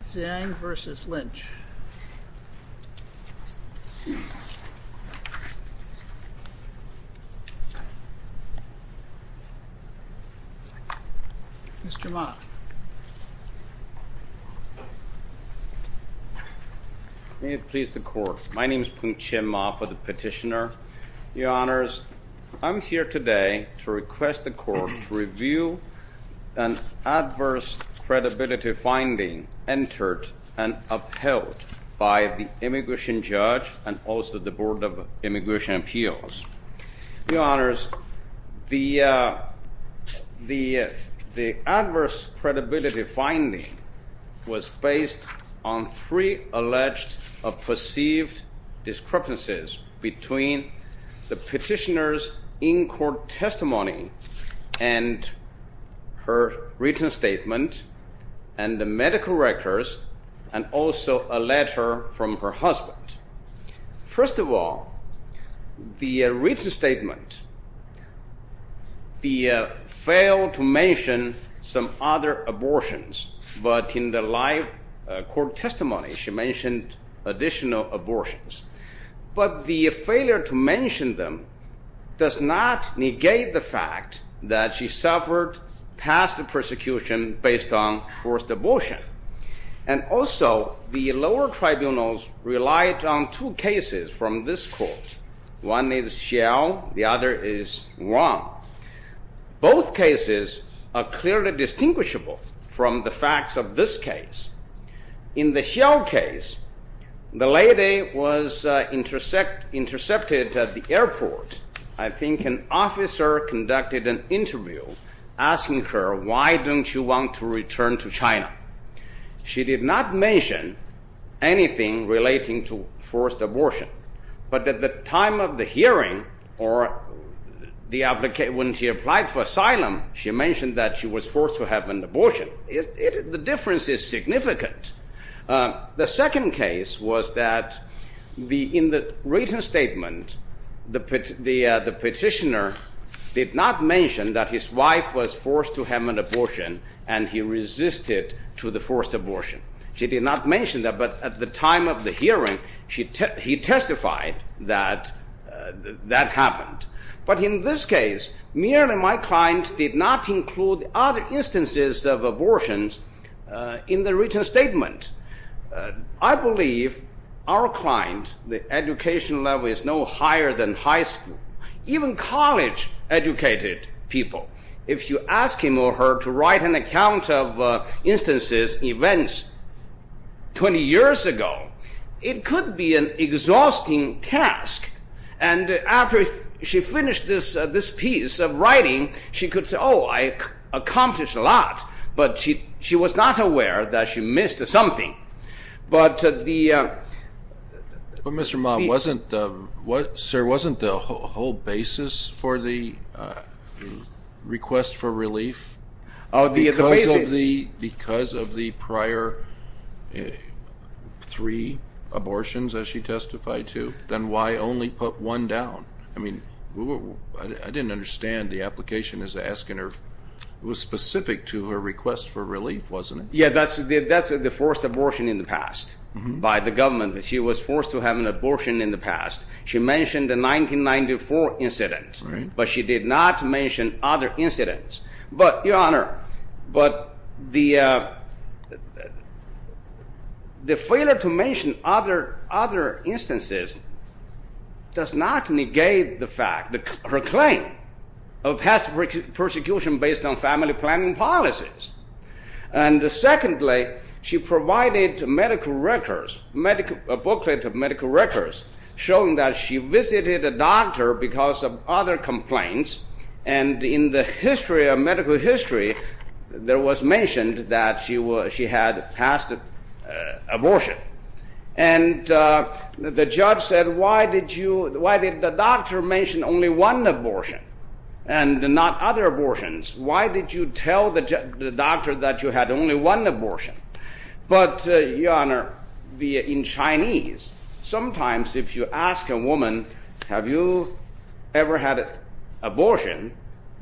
Yumin Xiang v. Loretta Lynch Mr. Mop May it please the Court. My name is Poong Chae Mop. I'm the petitioner. Your Honors, I'm here today to request the Court to review an adverse credibility finding entered and upheld by the Immigration Judge and also the Board of Immigration Appeals. Your Honors, the adverse credibility finding was based on three alleged or perceived discrepancies between the petitioner's in-court testimony and her written statement and the medical records and also a letter from her husband. First of all, the written statement failed to mention some other abortions, but in the live court testimony she mentioned additional abortions. But the failure to mention them does not negate the fact that she suffered past persecution based on forced abortion. And also, the lower tribunals relied on two cases from this court. One is Hsiao, the other is Wang. Both cases are clearly distinguishable from the facts of this case. In the Hsiao case, the lady was intercepted at the airport. I think an officer conducted an interview asking her, why don't you want to return to China? She did not mention anything relating to forced abortion. But at the time of the hearing or when she applied for asylum, she mentioned that she was forced to have an abortion. The difference is significant. The second case was that in the written statement, the petitioner did not mention that his wife was forced to have an abortion and he resisted to the forced abortion. She did not mention that, but at the time of the hearing, he testified that that happened. But in this case, merely my client did not include other instances of abortions in the written statement. I believe our client, the education level is no higher than high school, even college educated people. If you ask him or her to write an account of instances, events, 20 years ago, it could be an exhausting task. After she finished this piece of writing, she could say, oh, I accomplished a lot, but she was not aware that she missed something. But Mr. Ma, wasn't the whole basis for the request for relief because of the prior three abortions that she testified to? Then why only put one down? I didn't understand the application was specific to her request for relief, wasn't it? Yeah, that's the forced abortion in the past by the government. She was forced to have an abortion in the past. She mentioned the 1994 incident, but she did not mention other incidents. Your Honor, the failure to mention other instances does not negate her claim of past persecution based on family planning policies. Secondly, she provided a booklet of medical records showing that she visited a doctor because of other complaints. In the history of medical history, it was mentioned that she had a past abortion. And the judge said, why did the doctor mention only one abortion and not other abortions? Why did you tell the doctor that you had only one abortion? But, Your Honor, in Chinese, sometimes if you ask a woman, have you ever had an abortion,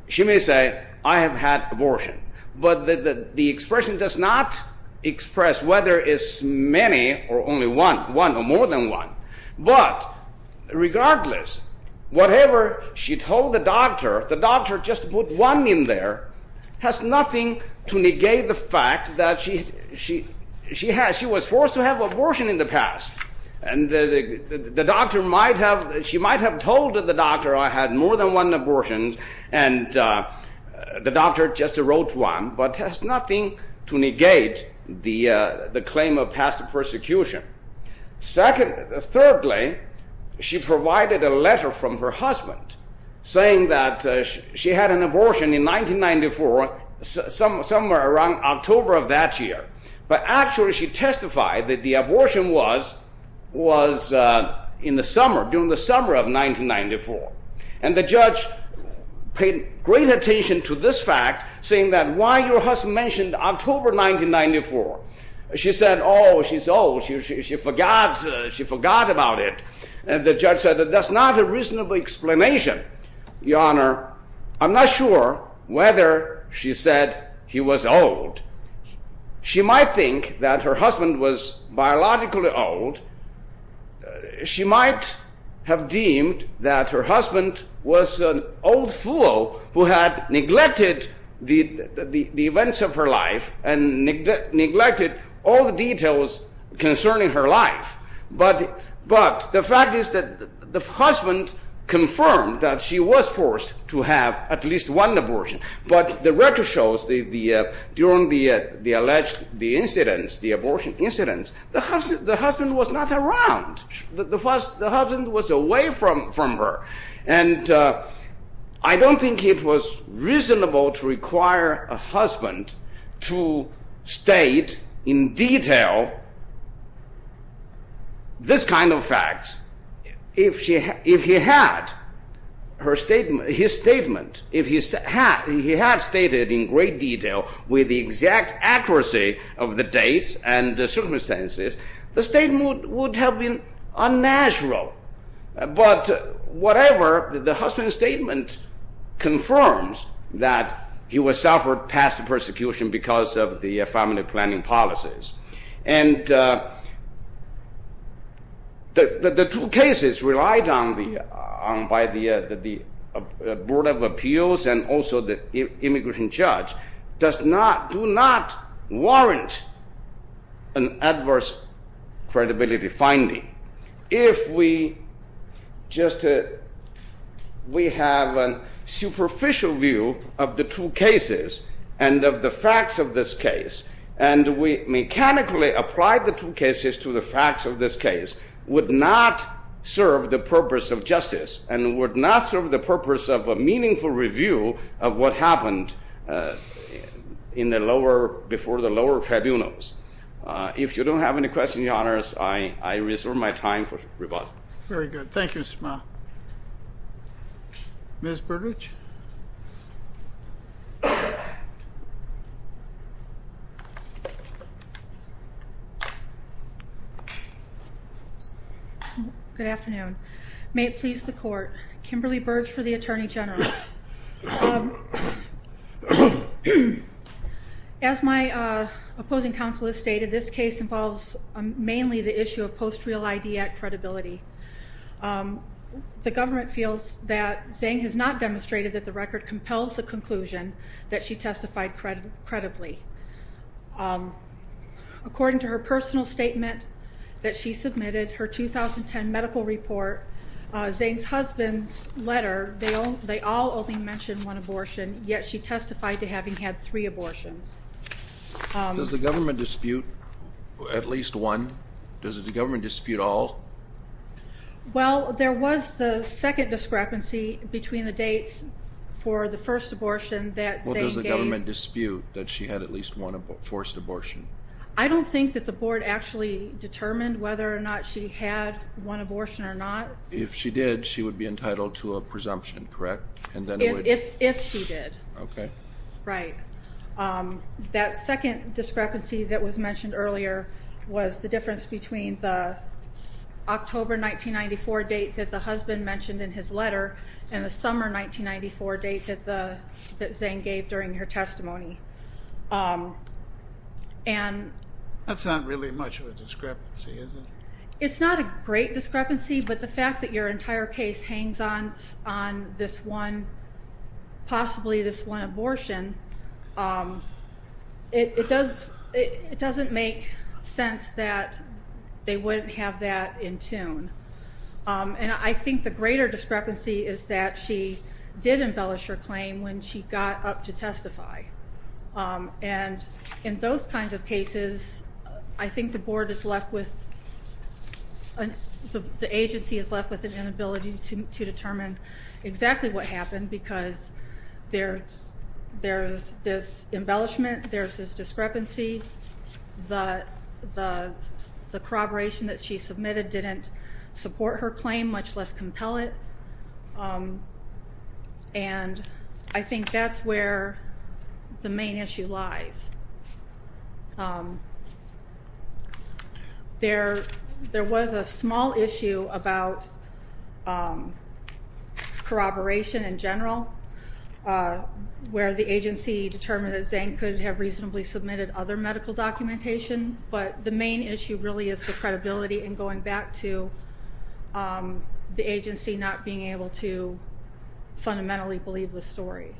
she may say, I have had an abortion. But the expression does not express whether it's many or only one, one or more than one. But regardless, whatever she told the doctor, the doctor just put one in there, has nothing to negate the fact that she was forced to have an abortion in the past. And the doctor might have told the doctor I had more than one abortion, and the doctor just wrote one, but has nothing to negate the claim of past persecution. Thirdly, she provided a letter from her husband saying that she had an abortion in 1994, somewhere around October of that year. But actually, she testified that the abortion was in the summer, during the summer of 1994. And the judge paid great attention to this fact, saying that why your husband mentioned October 1994. She said, oh, she's old, she forgot about it. And the judge said, that's not a reasonable explanation. Your Honor, I'm not sure whether she said he was old. She might think that her husband was biologically old. She might have deemed that her husband was an old fool who had neglected the events of her life and neglected all the details concerning her life. But the fact is that the husband confirmed that she was forced to have at least one abortion. But the record shows that during the alleged incidents, the abortion incidents, the husband was not around. The husband was away from her. And I don't think it was reasonable to require a husband to state in detail this kind of facts. If he had his statement, if he had stated in great detail with the exact accuracy of the dates and the circumstances, the statement would have been unnatural. But whatever, the husband's statement confirms that he was suffered past persecution because of the family planning policies. And the two cases relied on by the Board of Appeals and also the immigration judge do not warrant an adverse credibility finding. If we have a superficial view of the two cases and of the facts of this case, and we mechanically apply the two cases to the facts of this case, would not serve the purpose of justice and would not serve the purpose of a meaningful review of what happened before the lower tribunals. If you don't have any questions, your honors, I reserve my time for rebuttal. Very good. Thank you, Mr. Ma. Ms. Burdage? Good afternoon. May it please the court, Kimberly Burdge for the Attorney General. As my opposing counsel has stated, this case involves mainly the issue of post-real ID act credibility. The government feels that Zhang has not demonstrated that the record compels the conclusion that she testified credibly. According to her personal statement that she submitted, her 2010 medical report, Zhang's husband's letter, they all only mentioned one abortion, yet she testified to having had three abortions. Does the government dispute at least one? Does the government dispute all? Well, there was the second discrepancy between the dates for the first abortion that Zhang gave. Well, does the government dispute that she had at least one forced abortion? I don't think that the board actually determined whether or not she had one abortion or not. If she did, she would be entitled to a presumption, correct? If she did. Right. That second discrepancy that was mentioned earlier was the difference between the October 1994 date that the husband mentioned in his letter and the summer 1994 date that Zhang gave during her testimony. That's not really much of a discrepancy, is it? It's not a great discrepancy, but the fact that your entire case hangs on this one, possibly this one abortion, it doesn't make sense that they wouldn't have that in tune. And I think the greater discrepancy is that she did embellish her claim when she got up to testify. And in those kinds of cases, I think the agency is left with an inability to determine exactly what happened because there's this embellishment, there's this discrepancy, the corroboration that she submitted didn't support her claim, much less compel it. And I think that's where the main issue lies. There was a small issue about corroboration in general, where the agency determined that Zhang could have reasonably submitted other medical documentation, but the main issue really is the credibility and going back to the agency not being able to fundamentally believe the story.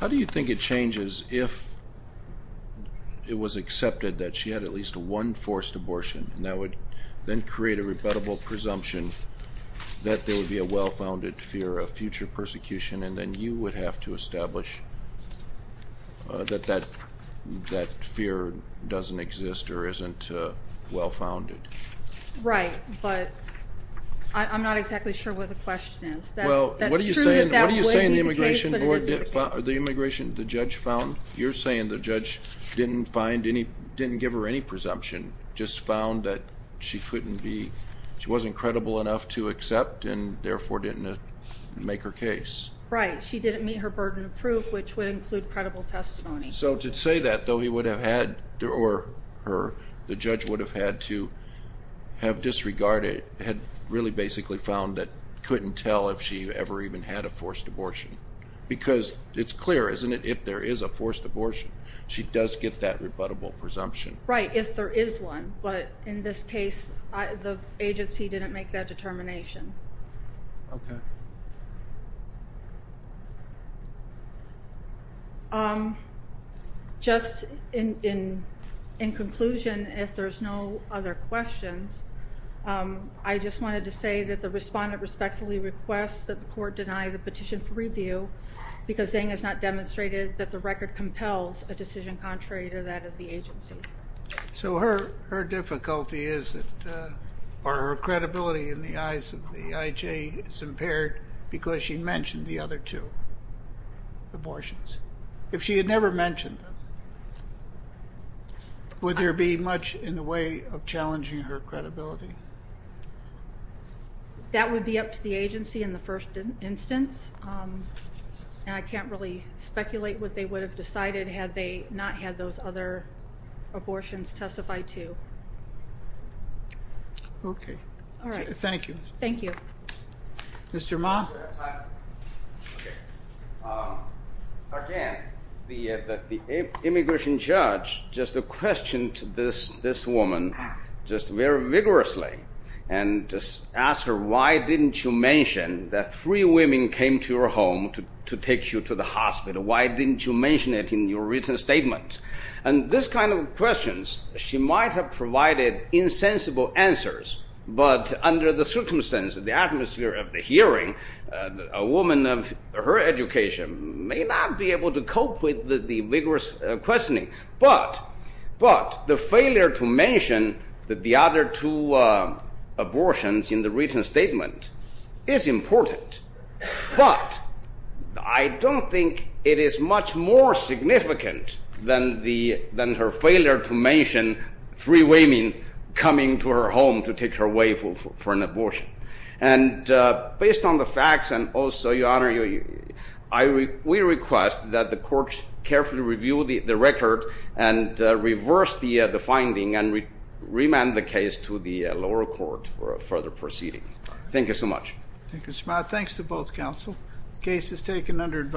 How do you think it changes if it was accepted that she had at least one forced abortion and that would then create a rebuttable presumption that there would be a well-founded fear of future persecution and then you would have to establish that that fear doesn't exist or isn't well-founded? Right, but I'm not exactly sure what the question is. That's true that that would be the case, but it isn't the case. You're saying the judge didn't give her any presumption, just found that she wasn't credible enough to accept and therefore didn't make her case? Right. She didn't meet her burden of proof, which would include credible testimony. So to say that, though, he would have had, or her, the judge would have had to have disregarded, had really basically found that couldn't tell if she ever even had a forced abortion. Because it's clear, isn't it, if there is a forced abortion, she does get that rebuttable presumption. Right, if there is one. But in this case, the agency didn't make that determination. Okay. Just in conclusion, if there's no other questions, I just wanted to say that the respondent respectfully requests that the court deny the petition for review because Zeng has not demonstrated that the record compels a decision contrary to that of the agency. So her difficulty is that, or her credibility in the eyes of the IJ is impaired because she mentioned the other two abortions. If she had never mentioned them, would there be much in the way of challenging her credibility? That would be up to the agency in the first instance. And I can't really speculate what they would have decided had they not had those other abortions testified to. Okay. Thank you. Thank you. Mr. Ma? Again, the immigration judge just questioned this woman just very vigorously and asked her, why didn't you mention that three women came to your home to take you to the hospital? Why didn't you mention it in your written statement? And this kind of questions, she might have provided insensible answers, but under the circumstances, the atmosphere of the hearing, a woman of her education may not be able to cope with the vigorous questioning. But the failure to mention the other two abortions in the written statement is important. But I don't think it is much more significant than her failure to mention three women coming to her home to take her away for an abortion. And based on the facts, and also, Your Honor, we request that the court carefully review the record and reverse the finding and remand the case to the lower court for further proceeding. Thank you so much. Thank you, Mr. Ma. Thanks to both counsel. The case is taken under advisory.